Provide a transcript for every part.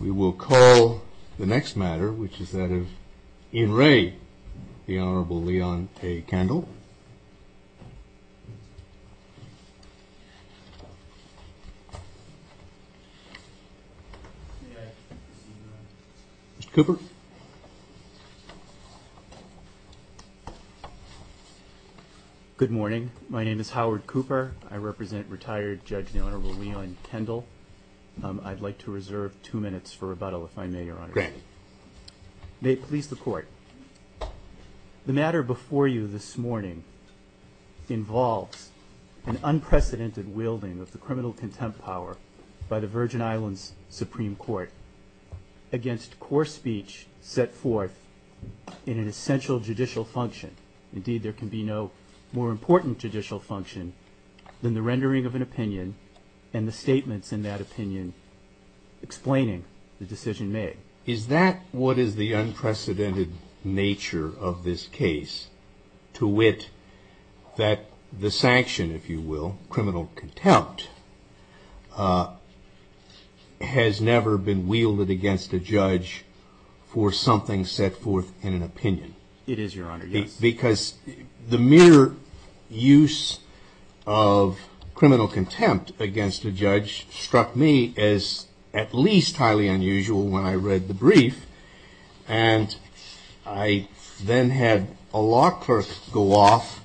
We will call the next matter, which is that of Ian Ray, the Honorable Leon AKendall. Mr. Cooper. Good morning. My name is Howard Cooper. I represent retired Judge Leon AKendall. I'd like to reserve two minutes for rebuttal, if I may, Your Honor. Great. May it please the Court. The matter before you this morning involves an unprecedented wielding of the criminal contempt power by the Virgin Islands Supreme Court against core speech set forth in an essential judicial function. Indeed, there can be no more important judicial function than the rendering of an opinion and the statements in that opinion explaining the decision made. Is that what is the unprecedented nature of this case, to wit, that the sanction, if you will, criminal contempt, has never been wielded against a judge for something set forth in an opinion? It is, Your Honor, yes. Because the mere use of criminal contempt against a judge struck me as at least highly unusual when I read the brief. And I then had a law clerk go off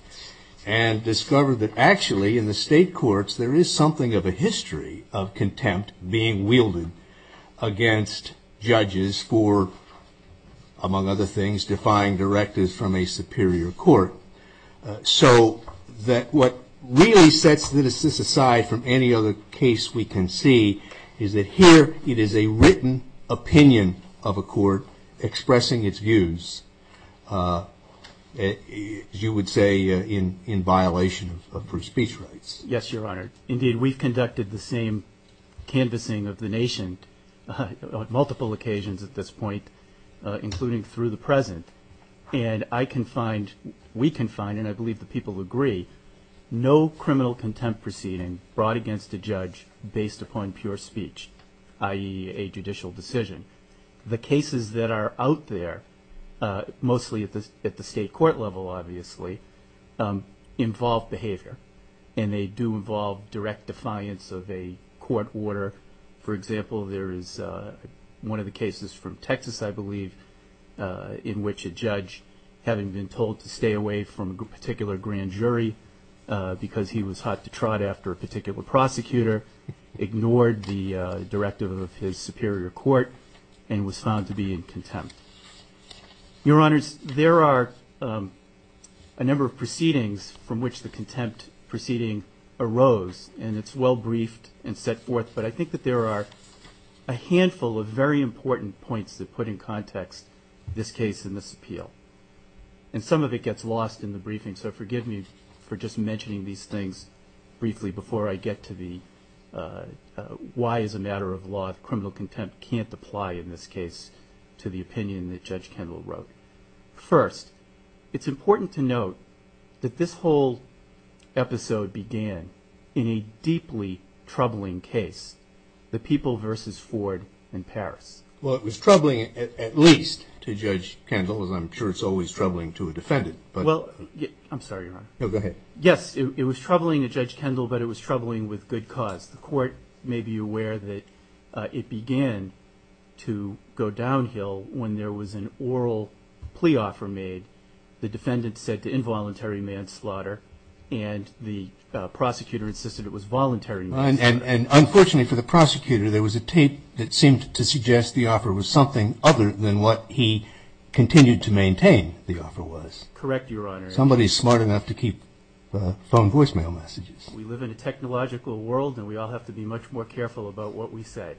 and discover that, actually, in the state courts, there is something of a history of contempt being wielded against judges for, among other things, defying directives from a superior court. So that what really sets this aside from any other case we can see is that here it is a written opinion of a court expressing its views, as you would say, in violation of proof of speech rights. Yes, Your Honor. Indeed, we've conducted the same canvassing of the nation on multiple occasions at this point, including through the present, and I can find, we can find, and I believe the people agree, no criminal contempt proceeding brought against a judge based upon pure speech, i.e., a judicial decision. The cases that are out there, mostly at the state court level, obviously, involve behavior, and they do involve direct defiance of a court order. For example, there is one of the cases from Texas, I believe, in which a judge, having been told to stay away from a particular grand jury because he was hot to trot after a particular prosecutor, ignored the directive of his superior court and was found to be in contempt. Your Honors, there are a number of proceedings from which the contempt proceeding arose, and it's well briefed and set forth, but I think that there are a handful of very important points that put in context this case and this appeal, and some of it gets lost in the briefing, so forgive me for just mentioning these things briefly before I get to the why as a matter of law criminal contempt can't apply in this case to the opinion that Judge Kendall wrote. First, it's important to note that this whole episode began in a deeply troubling case, the People v. Ford in Paris. Well, it was troubling at least to Judge Kendall, as I'm sure it's always troubling to a defendant. Well, I'm sorry, Your Honor. No, go ahead. Yes, it was troubling to Judge Kendall, but it was troubling with good cause. Perhaps the court may be aware that it began to go downhill when there was an oral plea offer made. The defendant said to involuntary manslaughter, and the prosecutor insisted it was voluntary manslaughter. And unfortunately for the prosecutor, there was a tape that seemed to suggest the offer was something other than what he continued to maintain the offer was. Correct, Your Honor. Somebody smart enough to keep phone voicemail messages. We live in a technological world, and we all have to be much more careful about what we say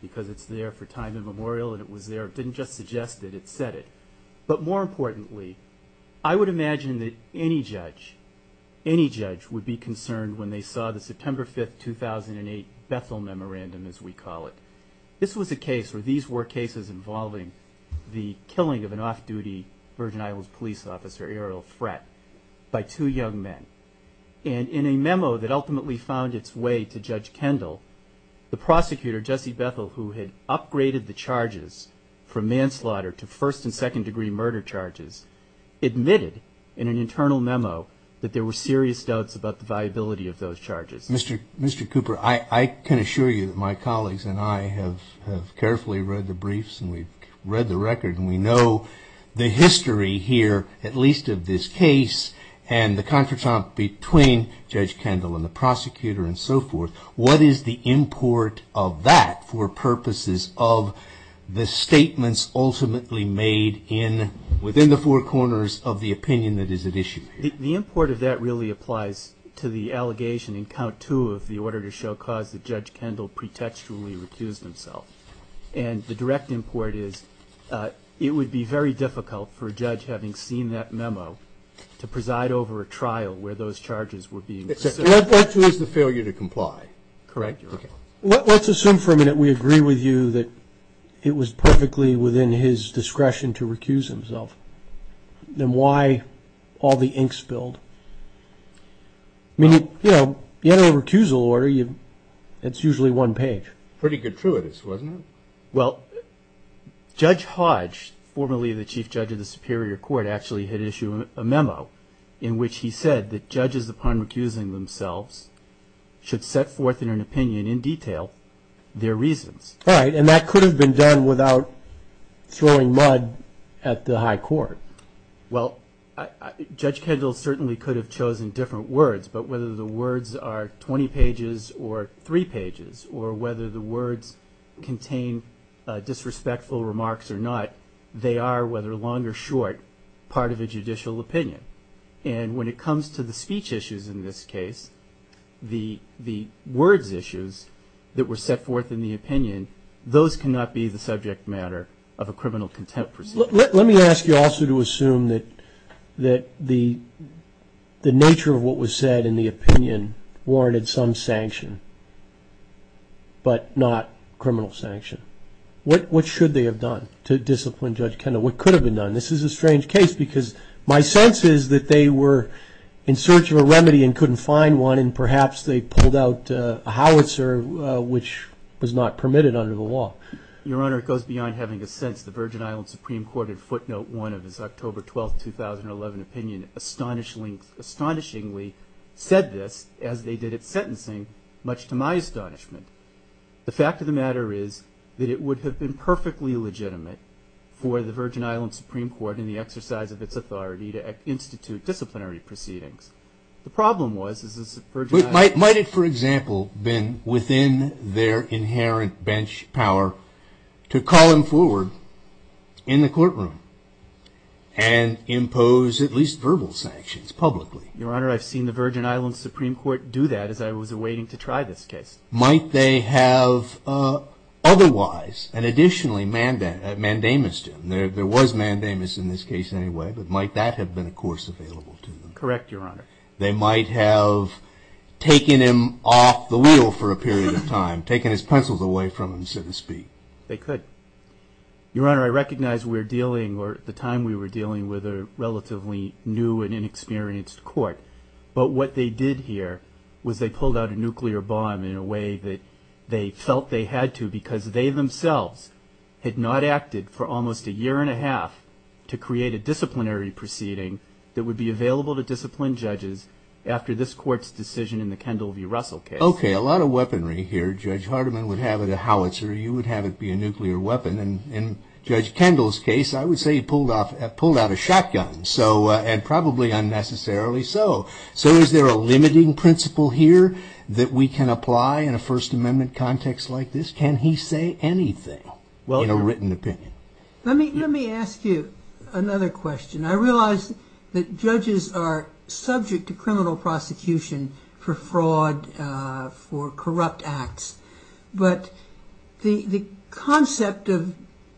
because it's there for time immemorial, and it was there. It didn't just suggest it. It said it. But more importantly, I would imagine that any judge, any judge, would be concerned when they saw the September 5, 2008 Bethel Memorandum, as we call it. This was a case where these were cases involving the killing of an off-duty Virgin Islands police officer, Errol Fratt, by two young men. And in a memo that ultimately found its way to Judge Kendall, the prosecutor, Jesse Bethel, who had upgraded the charges for manslaughter to first and second degree murder charges, admitted in an internal memo that there were serious doubts about the viability of those charges. Mr. Cooper, I can assure you that my colleagues and I have carefully read the briefs and we've read the record and we know the history here, at least of this case, and the confrontation between Judge Kendall and the prosecutor and so forth. What is the import of that for purposes of the statements ultimately made within the four corners of the opinion that is at issue here? The import of that really applies to the allegation in count two of the order to show cause that Judge Kendall pretextually recused himself. And the direct import is it would be very difficult for a judge, having seen that memo, to preside over a trial where those charges were being presented. That too is the failure to comply. Correct, Your Honor. Let's assume for a minute we agree with you that it was perfectly within his discretion to recuse himself. Then why all the ink spilled? I mean, you know, you had a recusal order, it's usually one page. Pretty gratuitous, wasn't it? Well, Judge Hodge, formerly the Chief Judge of the Superior Court, actually had issued a memo in which he said that judges, upon recusing themselves, should set forth in an opinion in detail their reasons. All right, and that could have been done without throwing mud at the high court. Well, Judge Kendall certainly could have chosen different words, but whether the words are 20 pages or three pages, or whether the words contain disrespectful remarks or not, they are, whether long or short, part of a judicial opinion. And when it comes to the speech issues in this case, the words issues that were set forth in the opinion, those cannot be the subject matter of a criminal contempt proceeding. Well, let me ask you also to assume that the nature of what was said in the opinion warranted some sanction, but not criminal sanction. What should they have done to discipline Judge Kendall? What could have been done? This is a strange case because my sense is that they were in search of a remedy and couldn't find one, and perhaps they pulled out a howitzer, which was not permitted under the law. Your Honor, it goes beyond having a sense. The Virgin Island Supreme Court in footnote one of its October 12, 2011 opinion astonishingly said this as they did its sentencing, much to my astonishment. The fact of the matter is that it would have been perfectly legitimate for the Virgin Island Supreme Court in the exercise of its authority to institute disciplinary proceedings. The problem was is that the Virgin Island Supreme Court their inherent bench power to call him forward in the courtroom and impose at least verbal sanctions publicly. Your Honor, I've seen the Virgin Island Supreme Court do that as I was awaiting to try this case. Might they have otherwise and additionally mandamus to him? There was mandamus in this case anyway, but might that have been a course available to them? Correct, Your Honor. They might have taken him off the wheel for a period of time, taken his pencils away from him, so to speak. They could. Your Honor, I recognize we're dealing or at the time we were dealing with a relatively new and inexperienced court, but what they did here was they pulled out a nuclear bomb in a way that they felt they had to because they themselves had not acted for almost a year and a half to create a disciplinary proceeding that would be available to discipline judges after this court's decision in the Kendall v. Russell case. Okay, a lot of weaponry here. Judge Hardiman would have it a howitzer. You would have it be a nuclear weapon. In Judge Kendall's case, I would say he pulled out a shotgun, and probably unnecessarily so. So is there a limiting principle here that we can apply in a First Amendment context like this? Can he say anything in a written opinion? Let me ask you another question. I realize that judges are subject to criminal prosecution for fraud, for corrupt acts. But the concept of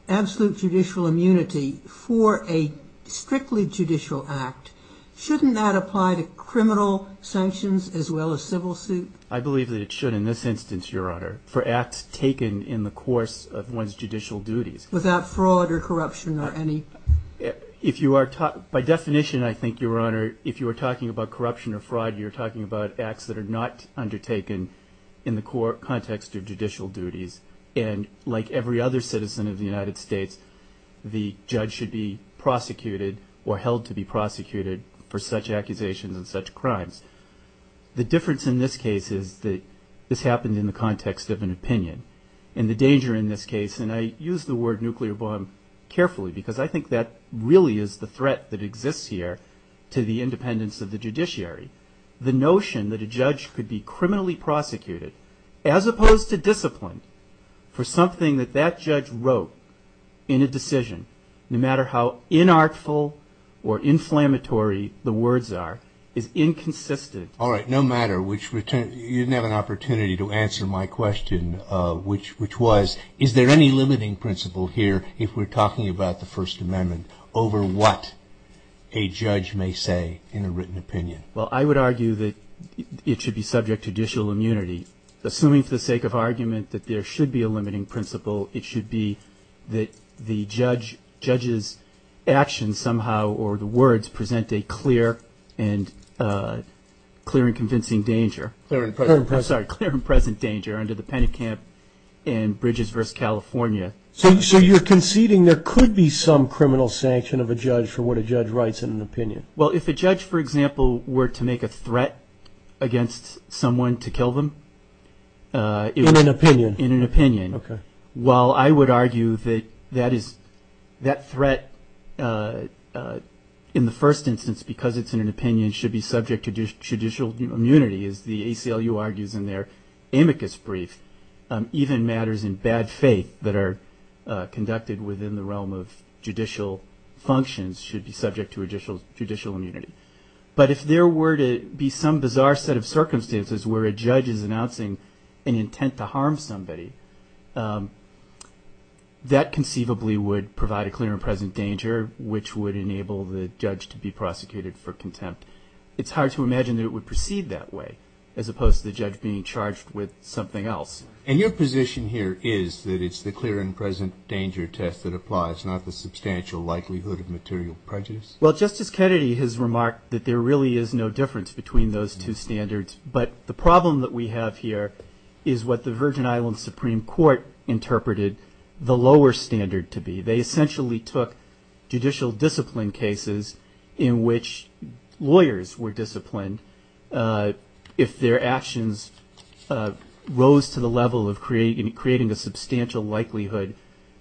absolute judicial immunity for a strictly judicial act, shouldn't that apply to criminal sanctions as well as civil suit? I believe that it should in this instance, Your Honor, for acts taken in the course of one's judicial duties. Without fraud or corruption or any? By definition, I think, Your Honor, if you were talking about corruption or fraud, you're talking about acts that are not undertaken in the context of judicial duties. And like every other citizen of the United States, the judge should be prosecuted or held to be prosecuted for such accusations and such crimes. The difference in this case is that this happened in the context of an opinion. And the danger in this case, and I use the word nuclear bomb carefully, because I think that really is the threat that exists here to the independence of the judiciary. The notion that a judge could be criminally prosecuted, as opposed to disciplined for something that that judge wrote in a decision, no matter how inartful or inflammatory the words are, is inconsistent. All right, no matter which, you didn't have an opportunity to answer my question, which was, is there any limiting principle here, if we're talking about the First Amendment, over what a judge may say in a written opinion? Well, I would argue that it should be subject to judicial immunity. Assuming for the sake of argument that there should be a limiting principle, it should be that the judge's actions somehow or the words present a clear and convincing danger. I'm sorry, clear and present danger under the Penicamp and Bridges v. California. So you're conceding there could be some criminal sanction of a judge for what a judge writes in an opinion? Well, if a judge, for example, were to make a threat against someone to kill them. In an opinion? In an opinion. Okay. Well, I would argue that that threat, in the first instance, because it's in an opinion, should be subject to judicial immunity, as the ACLU argues in their amicus brief. Even matters in bad faith that are conducted within the realm of judicial functions should be subject to judicial immunity. But if there were to be some bizarre set of circumstances where a judge is announcing an intent to harm somebody, that conceivably would provide a clear and present danger, which would enable the judge to be prosecuted for contempt, it's hard to imagine that it would proceed that way, as opposed to the judge being charged with something else. And your position here is that it's the clear and present danger test that applies, not the substantial likelihood of material prejudice? Well, Justice Kennedy has remarked that there really is no difference between those two standards. But the problem that we have here is what the Virgin Islands Supreme Court interpreted the lower standard to be. They essentially took judicial discipline cases in which lawyers were disciplined if their actions rose to the level of creating a substantial likelihood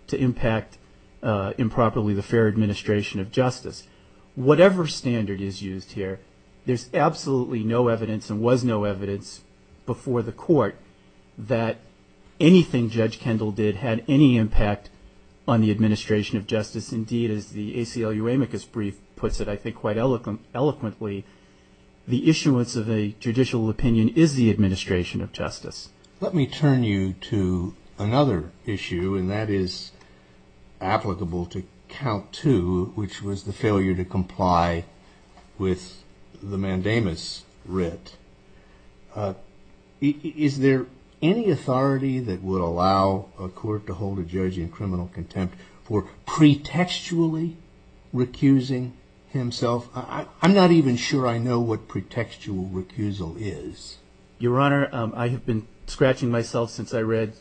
to impact improperly the fair administration of justice. Whatever standard is used here, there's absolutely no evidence, and was no evidence, before the court that anything Judge Kendall did had any impact on the administration of justice. Indeed, as the ACLU amicus brief puts it, I think, quite eloquently, the issuance of a judicial opinion is the administration of justice. Let me turn you to another issue, and that is applicable to count two, which was the failure to comply with the mandamus writ. Is there any authority that would allow a court to hold a judge in criminal contempt for pretextually recusing himself? I'm not even sure I know what pretextual recusal is. Your Honor, I have been scratching my head since I read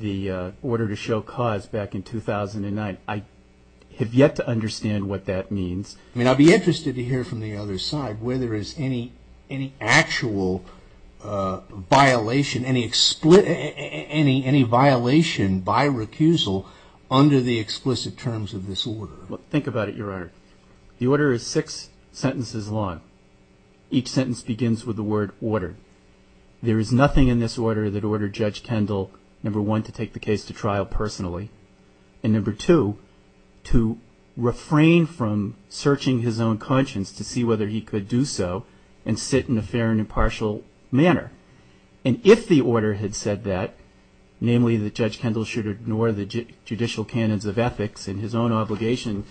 the order to show cause back in 2009. I have yet to understand what that means. I mean, I'd be interested to hear from the other side where there is any actual violation, any violation by recusal under the explicit terms of this order. Well, think about it, Your Honor. The order is six sentences long. Each sentence begins with the word ordered. There is nothing in this order that ordered Judge Kendall, number one, to take the case to trial personally, and number two, to refrain from searching his own conscience to see whether he could do so and sit in a fair and impartial manner. And if the order had said that, namely, that Judge Kendall should ignore the judicial canons of ethics and his own obligation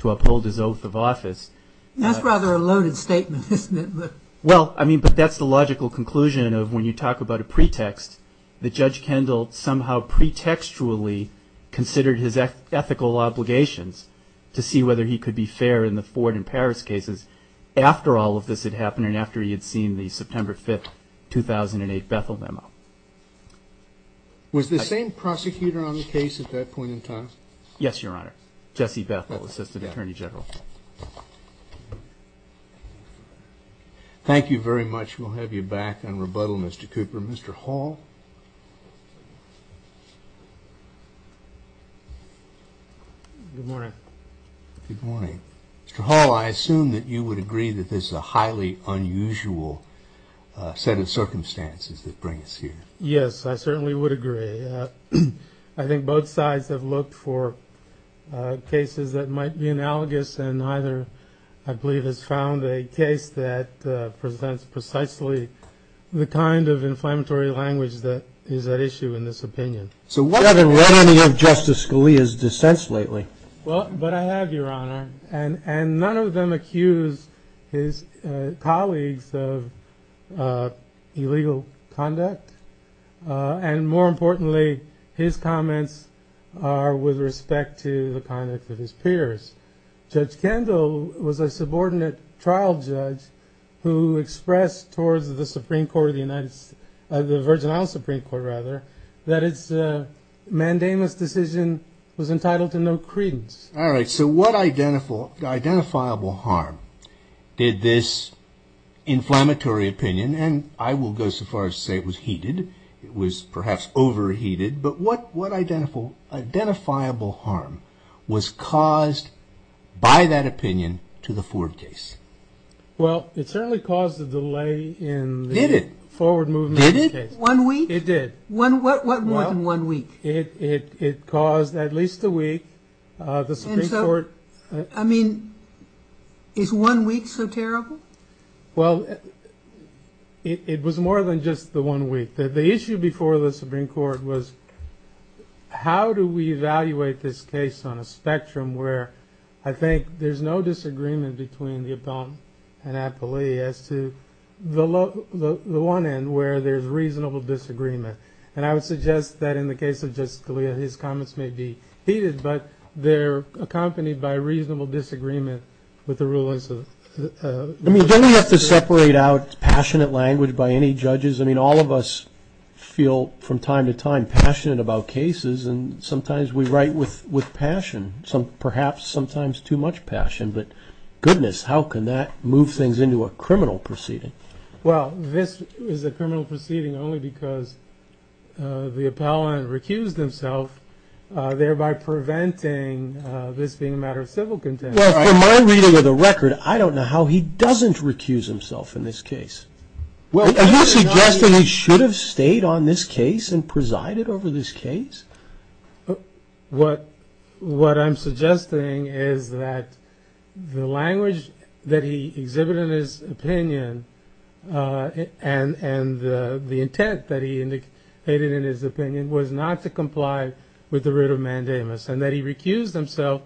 to uphold his oath of office. That's rather a loaded statement, isn't it? Well, I mean, but that's the logical conclusion of when you talk about a pretext, that Judge Kendall somehow pretextually considered his ethical obligations to see whether he could be fair in the Ford and Paris cases after all of this had happened and after he had seen the September 5, 2008 Bethel memo. Was the same prosecutor on the case at that point in time? Yes, Your Honor. Jesse Bethel, Assistant Attorney General. Thank you very much. We'll have you back on rebuttal, Mr. Cooper. Mr. Hall? Good morning. Good morning. Mr. Hall, I assume that you would agree that this is a highly unusual set of circumstances that bring us here. Yes, I certainly would agree. I think both sides have looked for cases that might be analogous and neither, I believe, has found a case that presents precisely the kind of inflammatory language that is at issue in this opinion. You haven't read any of Justice Scalia's dissents lately. Well, but I have, Your Honor. And none of them accuse his colleagues of illegal conduct. And more importantly, his comments are with respect to the conduct of his peers. Judge Kendall was a subordinate trial judge who expressed towards the Supreme Court of the United States, the Virgin Isles Supreme Court, rather, that its mandamus decision was entitled to no credence. All right, so what identifiable harm did this inflammatory opinion, and I will go so far as to say it was heated, it was perhaps overheated, but what identifiable harm was caused by that opinion to the Ford case? Well, it certainly caused a delay in the forward movement of the case. Did it? One week? It did. What more than one week? It caused, at least a week, the Supreme Court... And so, I mean, is one week so terrible? Well, it was more than just the one week. The issue before the Supreme Court was, how do we evaluate this case on a spectrum where, I think, there's no disagreement between the opponent and appellee as to the one end where there's reasonable disagreement. And I would suggest that in the case of Justice Scalia, his comments may be heated, but they're accompanied by reasonable disagreement with the rulings of... I mean, don't we have to separate out passionate language by any judges? I mean, all of us feel from time to time passionate about cases, and sometimes we write with passion, perhaps sometimes too much passion, but goodness, how can that move things into a criminal proceeding? Well, this is a criminal proceeding only because the appellant recused himself, thereby preventing this being a matter of civil contempt. Well, from my reading of the record, I don't know how he doesn't recuse himself in this case. Are you suggesting he should have stayed on this case and presided over this case? What I'm suggesting is that the language that he exhibited in his opinion and the intent that he indicated in his opinion was not to comply with the writ of mandamus, and that he recused himself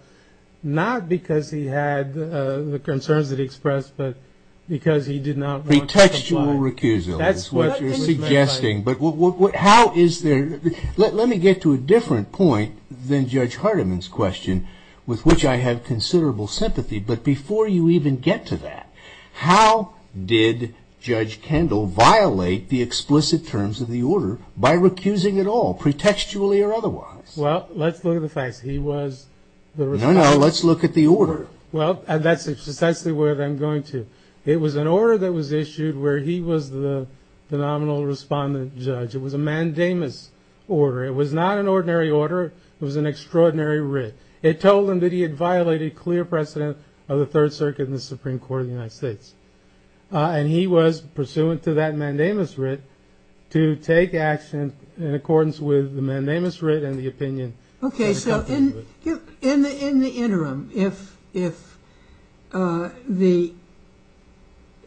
not because he had the concerns that he expressed, but because he did not want to comply. Pretextual recusal is what you're suggesting, but how is there... Let me get to a different point than Judge Hardiman's question, with which I have considerable sympathy, but before you even get to that, how did Judge Kendall violate the explicit terms of the order by recusing at all, pretextually or otherwise? Well, let's look at the facts. He was the... No, no, let's look at the order. Well, that's essentially where I'm going to. It was an order that was issued where he was the nominal respondent judge. It was a mandamus order. It was not an ordinary order. It was an extraordinary writ. It told him that he had violated clear precedent of the Third Circuit and the Supreme Court of the United States, and he was pursuant to that mandamus writ to take action in accordance with the mandamus writ and the opinion... Okay, so in the interim, if the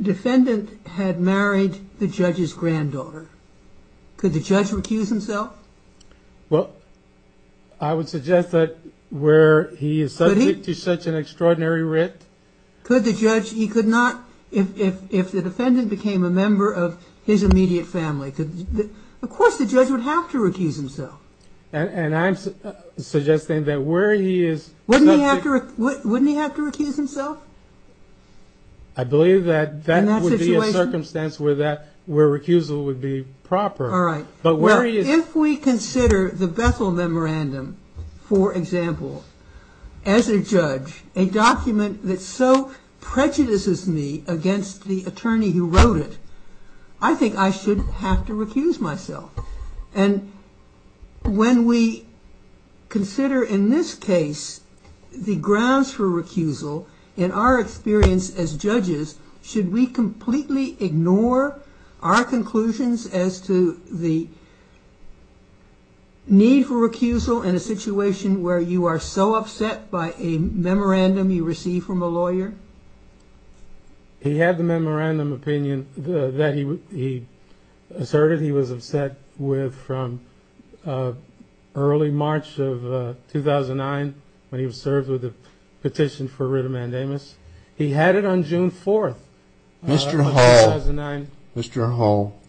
defendant had married the judge's granddaughter, could the judge recuse himself? Well, I would suggest that where he is subject to such an extraordinary writ... Could the judge... He could not... If the defendant became a member of his immediate family, of course the judge would have to recuse himself. And I'm suggesting that where he is... Wouldn't he have to recuse himself? I believe that that would be a circumstance where recusal would be proper. All right. But where he is... If we consider the Bethel Memorandum, for example, as a judge, a document that so prejudices me against the attorney who wrote it, I think I should have to recuse myself. And when we consider in this case the grounds for recusal, in our experience as judges, should we completely ignore our conclusions as to the need for recusal in a situation where you are so upset by a memorandum you receive from a lawyer? He had the memorandum opinion that he asserted he was upset with from early March of 2009 when he was served with a petition for writ of mandamus. He had it on June 4th of 2009. Mr. Hall, Mr. Hall,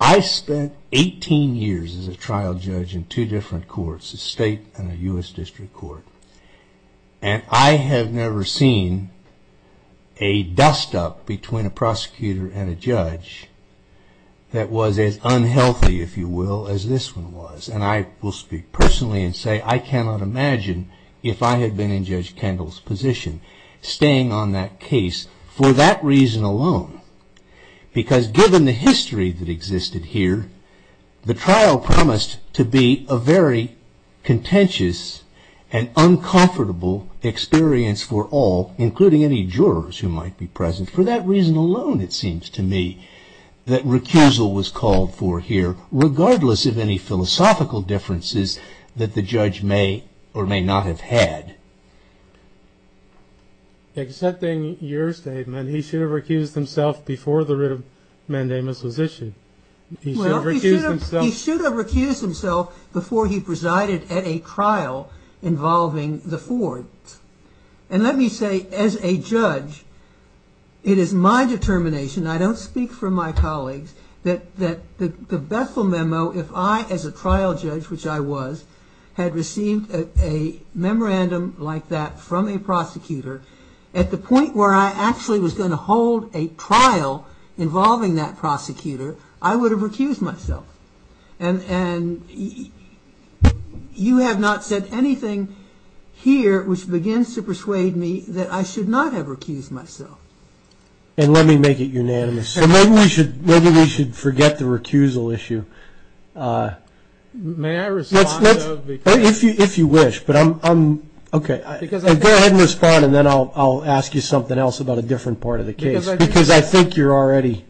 I spent 18 years as a trial judge in two different courts, a state and a U.S. district court. And I have never seen a dust-up between a prosecutor and a judge that was as unhealthy, if you will, as this one was. And I will speak personally and say I cannot imagine if I had been in Judge Kendall's position staying on that case for that reason alone. Because given the history that existed here, the trial promised to be a very contentious and uncomfortable experience for all, including any jurors who might be present. For that reason alone, it seems to me, that recusal was called for here, regardless of any philosophical differences that the judge may or may not have had. Accepting your statement, he should have recused himself before the writ of mandamus was issued. He should have recused himself before he presided at a trial involving the four. And let me say, as a judge, it is my determination, I don't speak for my colleagues, that the Bethel memo, if I as a trial judge, which I was, had received a memorandum like that from a prosecutor, at the point where I actually was going to hold a trial involving that prosecutor, I would have recused myself. And you have not said anything here which begins to persuade me that I should not have recused myself. And let me make it unanimous. Maybe we should forget the recusal issue. May I respond? If you wish. Okay. Go ahead and respond and then I'll ask you something else about a different part of the case. Because I think you're already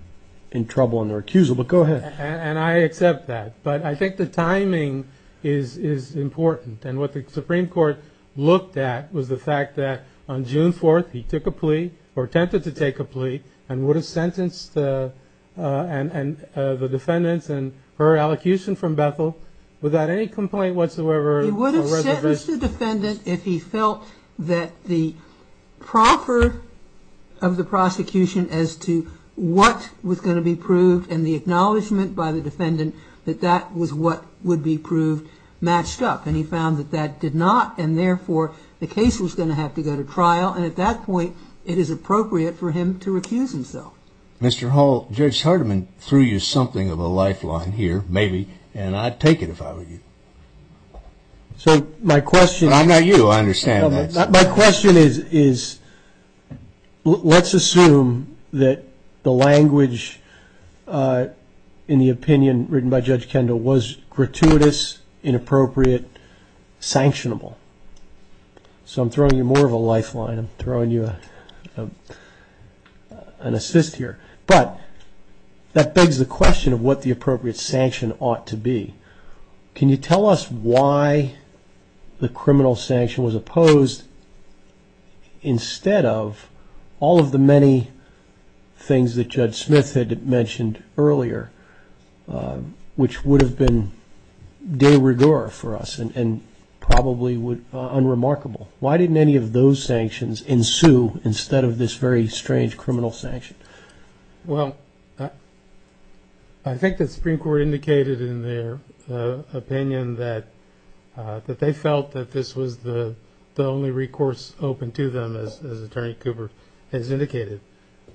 in trouble on the recusal. But go ahead. And I accept that. But I think the timing is important. And what the Supreme Court looked at was the fact that on June 4th, he took a plea, or attempted to take a plea, and would have sentenced the defendants and her allocution from Bethel without any complaint whatsoever. He would have sentenced the defendant if he felt that the proffer of the prosecution as to what was going to be proved and the acknowledgement by the defendant that that was what would be proved matched up. And he found that that did not, and therefore the case was going to have to go to trial. And at that point, it is appropriate for him to recuse himself. Mr. Hall, Judge Hardiman threw you something of a lifeline here, maybe. And I'd take it if I were you. But I'm not you. I understand that. My question is let's assume that the language in the opinion written by Judge Kendall was gratuitous, inappropriate, sanctionable. So I'm throwing you more of a lifeline. I'm throwing you an assist here. But that begs the question of what the appropriate sanction ought to be. Can you tell us why the criminal sanction was opposed instead of all of the many things that Judge Smith had mentioned earlier, which would have been de rigueur for us and probably unremarkable. Why didn't any of those sanctions ensue instead of this very strange criminal sanction? Well, I think the Supreme Court indicated in their opinion that they felt that this was the only recourse open to them, as Attorney Cooper has indicated.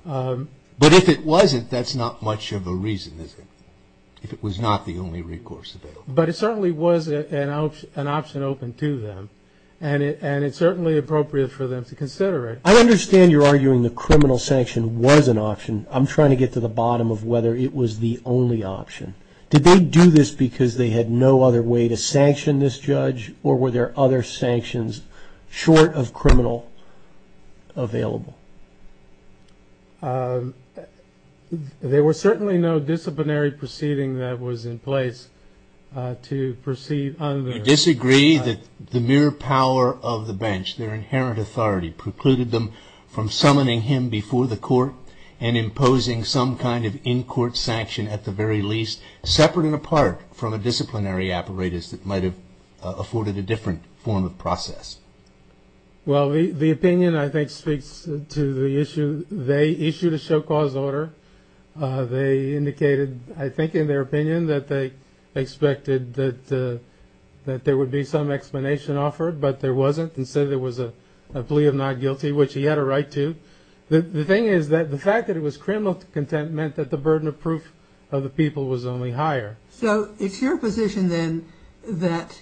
But if it wasn't, that's not much of a reason, is it, if it was not the only recourse available? But it certainly was an option open to them. And it's certainly appropriate for them to consider it. I understand you're arguing the criminal sanction was an option. I'm trying to get to the bottom of whether it was the only option. Did they do this because they had no other way to sanction this judge or were there other sanctions short of criminal available? There was certainly no disciplinary proceeding that was in place to proceed under. Do you disagree that the mere power of the bench, their inherent authority, precluded them from summoning him before the court and imposing some kind of in-court sanction at the very least, separate and apart from a disciplinary apparatus that might have afforded a different form of process? Well, the opinion, I think, speaks to the issue. They issued a show-cause order. They indicated, I think, in their opinion, that they expected that there would be some explanation offered, but there wasn't. Instead, there was a plea of not guilty, which he had a right to. The thing is that the fact that it was criminal content meant that the burden of proof of the people was only higher. So it's your position, then, that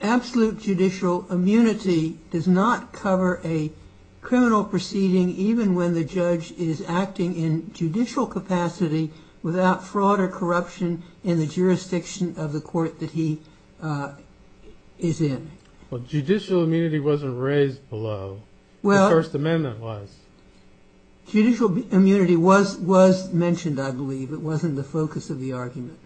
absolute judicial immunity does not cover a criminal proceeding even when the judge is acting in judicial capacity without fraud or corruption in the jurisdiction of the court that he is in? Well, judicial immunity wasn't raised below. The First Amendment was. Judicial immunity was mentioned, I believe. It wasn't the focus of the argument.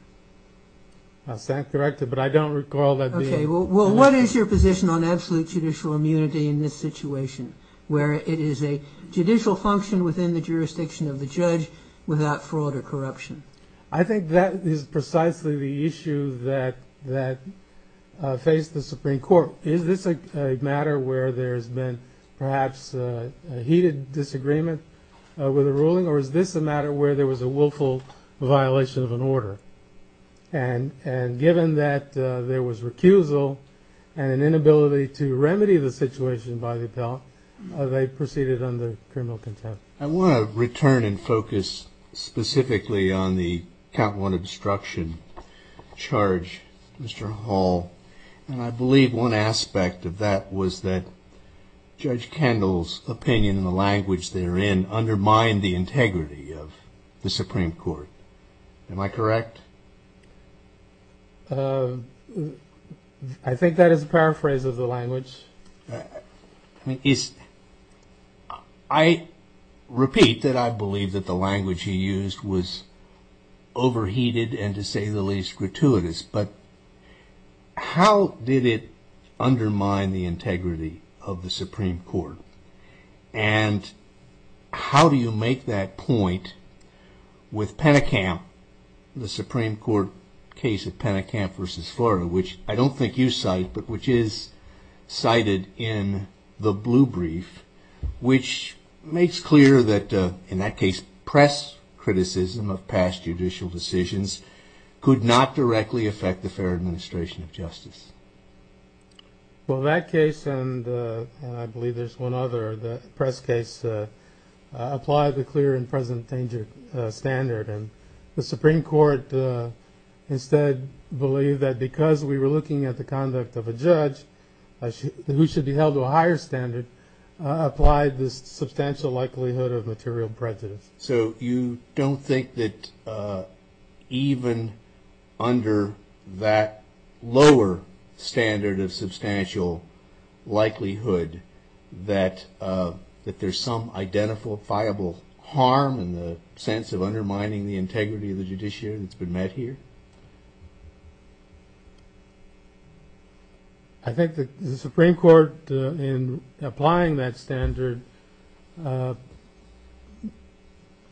That's correct, but I don't recall that being mentioned. Well, what is your position on absolute judicial immunity in this situation where it is a judicial function within the jurisdiction of the judge without fraud or corruption? I think that is precisely the issue that faced the Supreme Court. Is this a matter where there has been perhaps a heated disagreement with the ruling, or is this a matter where there was a willful violation of an order? And given that there was recusal and an inability to remedy the situation by the appellant, they proceeded under criminal contempt. I want to return and focus specifically on the count one obstruction charge, Mr. Hall, and I believe one aspect of that was that Judge Kendall's opinion and the language therein undermined the integrity of the Supreme Court. Am I correct? I think that is a paraphrase of the language. I repeat that I believe that the language he used was overheated and, to say the least, gratuitous, but how did it undermine the integrity of the Supreme Court? And how do you make that point with Pennekamp, the Supreme Court case of Pennekamp v. Florida, which I don't think you cite, but which is cited in the blue brief, which makes clear that, in that case, press criticism of past judicial decisions could not directly affect the fair administration of justice? Well, that case, and I believe there's one other, the press case, applied the clear and present danger standard, and the Supreme Court instead believed that because we were looking at the conduct of a judge who should be held to a higher standard applied the substantial likelihood of material prejudice. So you don't think that even under that lower standard of substantial likelihood that there's some identifiable harm in the sense of undermining the integrity of the judiciary that's been met here? I think the Supreme Court, in applying that standard,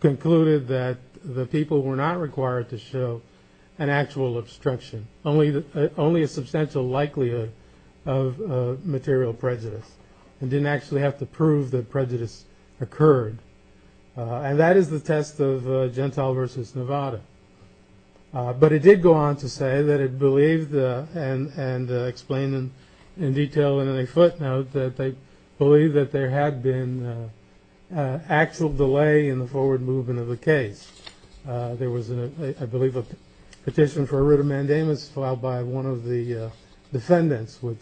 concluded that the people were not required to show an actual obstruction, only a substantial likelihood of material prejudice, and didn't actually have to prove that prejudice occurred. And that is the test of Gentile v. Nevada. But it did go on to say that it believed, and explained in detail in a footnote, that they believed that there had been actual delay in the forward movement of the case. There was, I believe, a petition for a writ of mandamus filed by one of the defendants which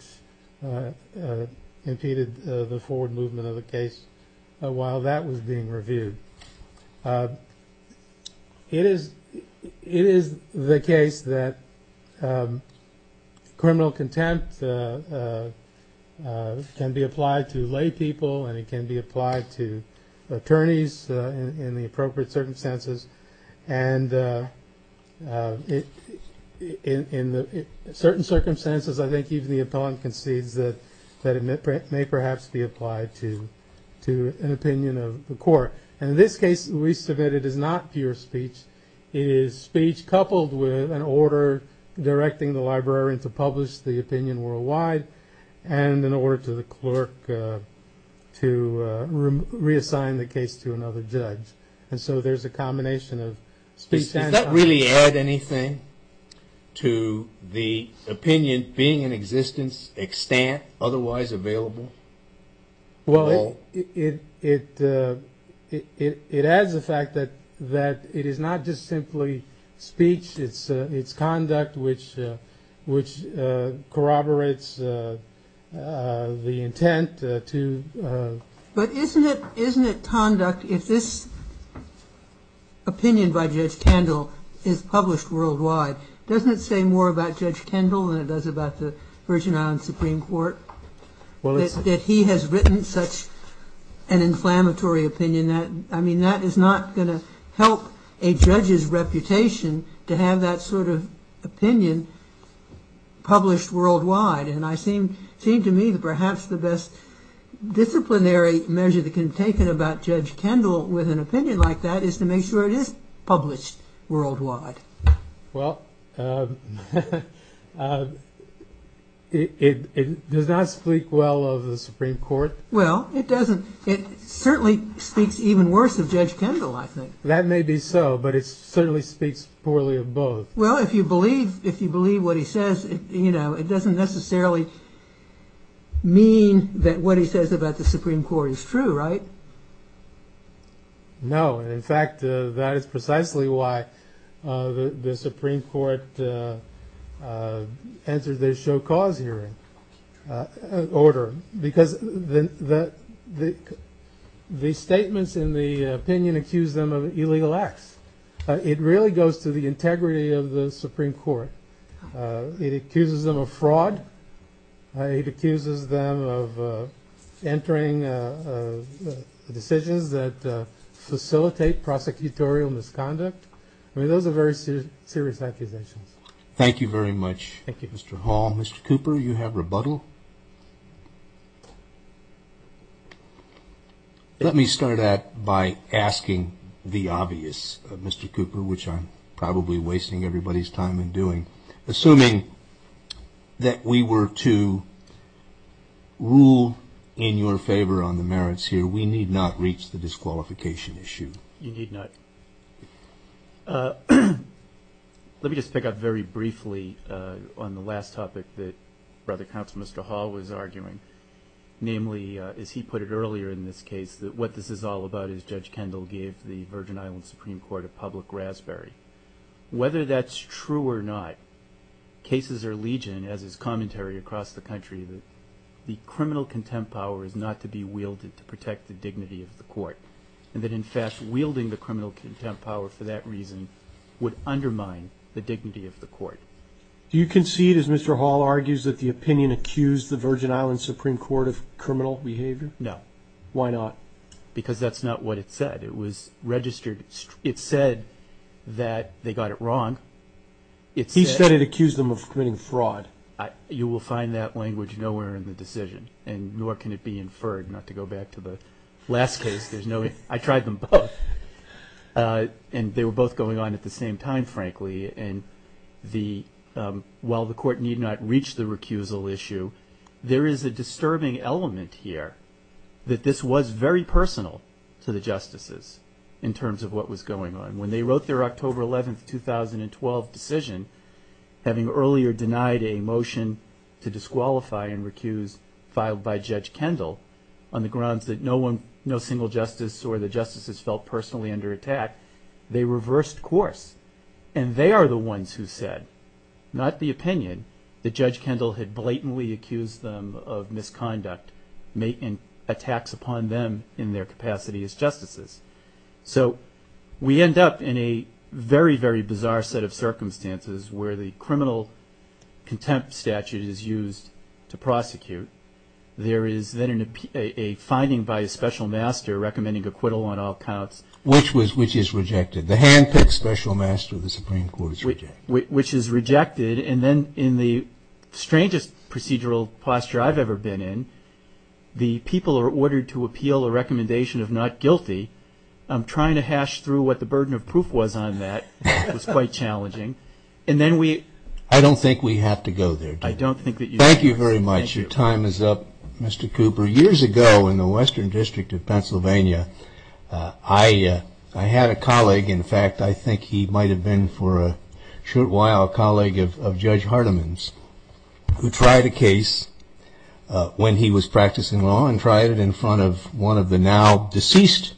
impeded the forward movement of the case while that was being reviewed. It is the case that criminal contempt can be applied to lay people and it can be applied to attorneys in the appropriate circumstances. And in certain circumstances, I think even the appellant concedes that it may perhaps be applied to an opinion of the court. And in this case, the least of it is not pure speech. It is speech coupled with an order directing the librarian to publish the opinion worldwide and an order to the clerk to reassign the case to another judge. And so there's a combination of speech and context. Does that really add anything to the opinion being in existence, extant, otherwise available? Well, it adds the fact that it is not just simply speech. It's conduct which corroborates the intent to... But isn't it conduct, if this opinion by Judge Kendall is published worldwide, doesn't it say more about Judge Kendall than it does about the Virgin Islands Supreme Court? That he has written such an inflammatory opinion. I mean, that is not going to help a judge's reputation to have that sort of opinion published worldwide. And it seemed to me that perhaps the best disciplinary measure that can be taken about Judge Kendall with an opinion like that is to make sure it is published worldwide. Well, it does not speak well of the Supreme Court. Well, it doesn't. It certainly speaks even worse of Judge Kendall, I think. That may be so, but it certainly speaks poorly of both. Well, if you believe what he says, it doesn't necessarily mean that what he says about the Supreme Court is true, right? No. In fact, that is precisely why the Supreme Court answered their show-cause hearing order. Because the statements in the opinion accuse them of illegal acts. It really goes to the integrity of the Supreme Court. It accuses them of fraud. It accuses them of entering decisions that facilitate prosecutorial misconduct. I mean, those are very serious accusations. Thank you very much, Mr. Hall. Mr. Cooper, you have rebuttal. Let me start out by asking the obvious, Mr. Cooper, which I'm probably wasting everybody's time in doing. Assuming that we were to rule in your favor on the merits here, we need not reach the disqualification issue. You need not. Let me just pick up very briefly on the last topic that Brother Counsel Mr. Hall was arguing, namely, as he put it earlier in this case, that what this is all about is Judge Kendall gave the Virgin Islands Supreme Court a public raspberry. Whether that's true or not, cases are legion, as is commentary across the country, that the criminal contempt power is not to be wielded to protect the dignity of the court, and that, in fact, wielding the criminal contempt power for that reason would undermine the dignity of the court. Do you concede, as Mr. Hall argues, that the opinion accused the Virgin Islands Supreme Court of criminal behavior? No. Why not? Because that's not what it said. It was registered. It said that they got it wrong. He said it accused them of committing fraud. You will find that language nowhere in the decision, and nor can it be inferred, not to go back to the last case. I tried them both, and they were both going on at the same time, frankly. And while the court need not reach the recusal issue, there is a disturbing element here that this was very personal to the justices in terms of what was going on. When they wrote their October 11, 2012 decision, having earlier denied a motion to disqualify and recuse filed by Judge Kendall on the grounds that no single justice or the justices felt personally under attack, they reversed course, and they are the ones who said, not the opinion, that Judge Kendall had blatantly accused them of misconduct and attacks upon them in their capacity as justices. So we end up in a very, very bizarre set of circumstances where the criminal contempt statute is used to prosecute. There is then a finding by a special master recommending acquittal on all counts. Which is rejected. The handpicked special master of the Supreme Court is rejected. Which is rejected, and then in the strangest procedural posture I've ever been in, the people are ordered to appeal a recommendation of not guilty. I'm trying to hash through what the burden of proof was on that. It was quite challenging. And then we... I don't think we have to go there. I don't think that you... Thank you very much. Your time is up, Mr. Cooper. Years ago in the Western District of Pennsylvania, I had a colleague, in fact I think he might have been for a short while a colleague of Judge Hardeman's, who tried a case when he was practicing law, and tried it in front of one of the now deceased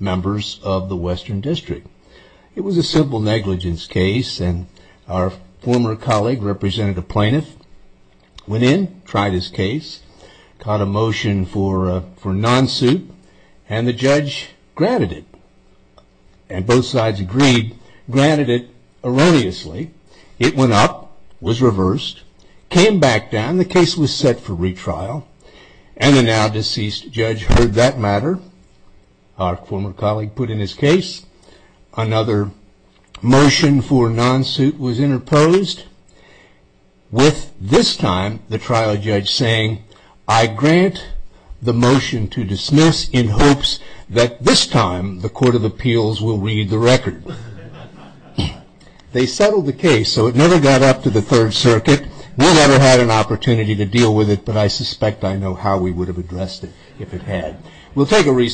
members of the Western District. It was a civil negligence case, and our former colleague, Representative Plaintiff, went in, tried his case, caught a motion for non-suit, and the judge granted it. And both sides agreed, granted it erroneously. It went up, was reversed, came back down, the case was set for retrial, and the now deceased judge heard that matter. Our former colleague put in his case. Another motion for non-suit was interposed, with this time the trial judge saying, I grant the motion to dismiss in hopes that this time the Court of Appeals will read the record. They settled the case, so it never got up to the Third Circuit. We never had an opportunity to deal with it, but I suspect I know how we would have addressed it if it had. We'll take a recess.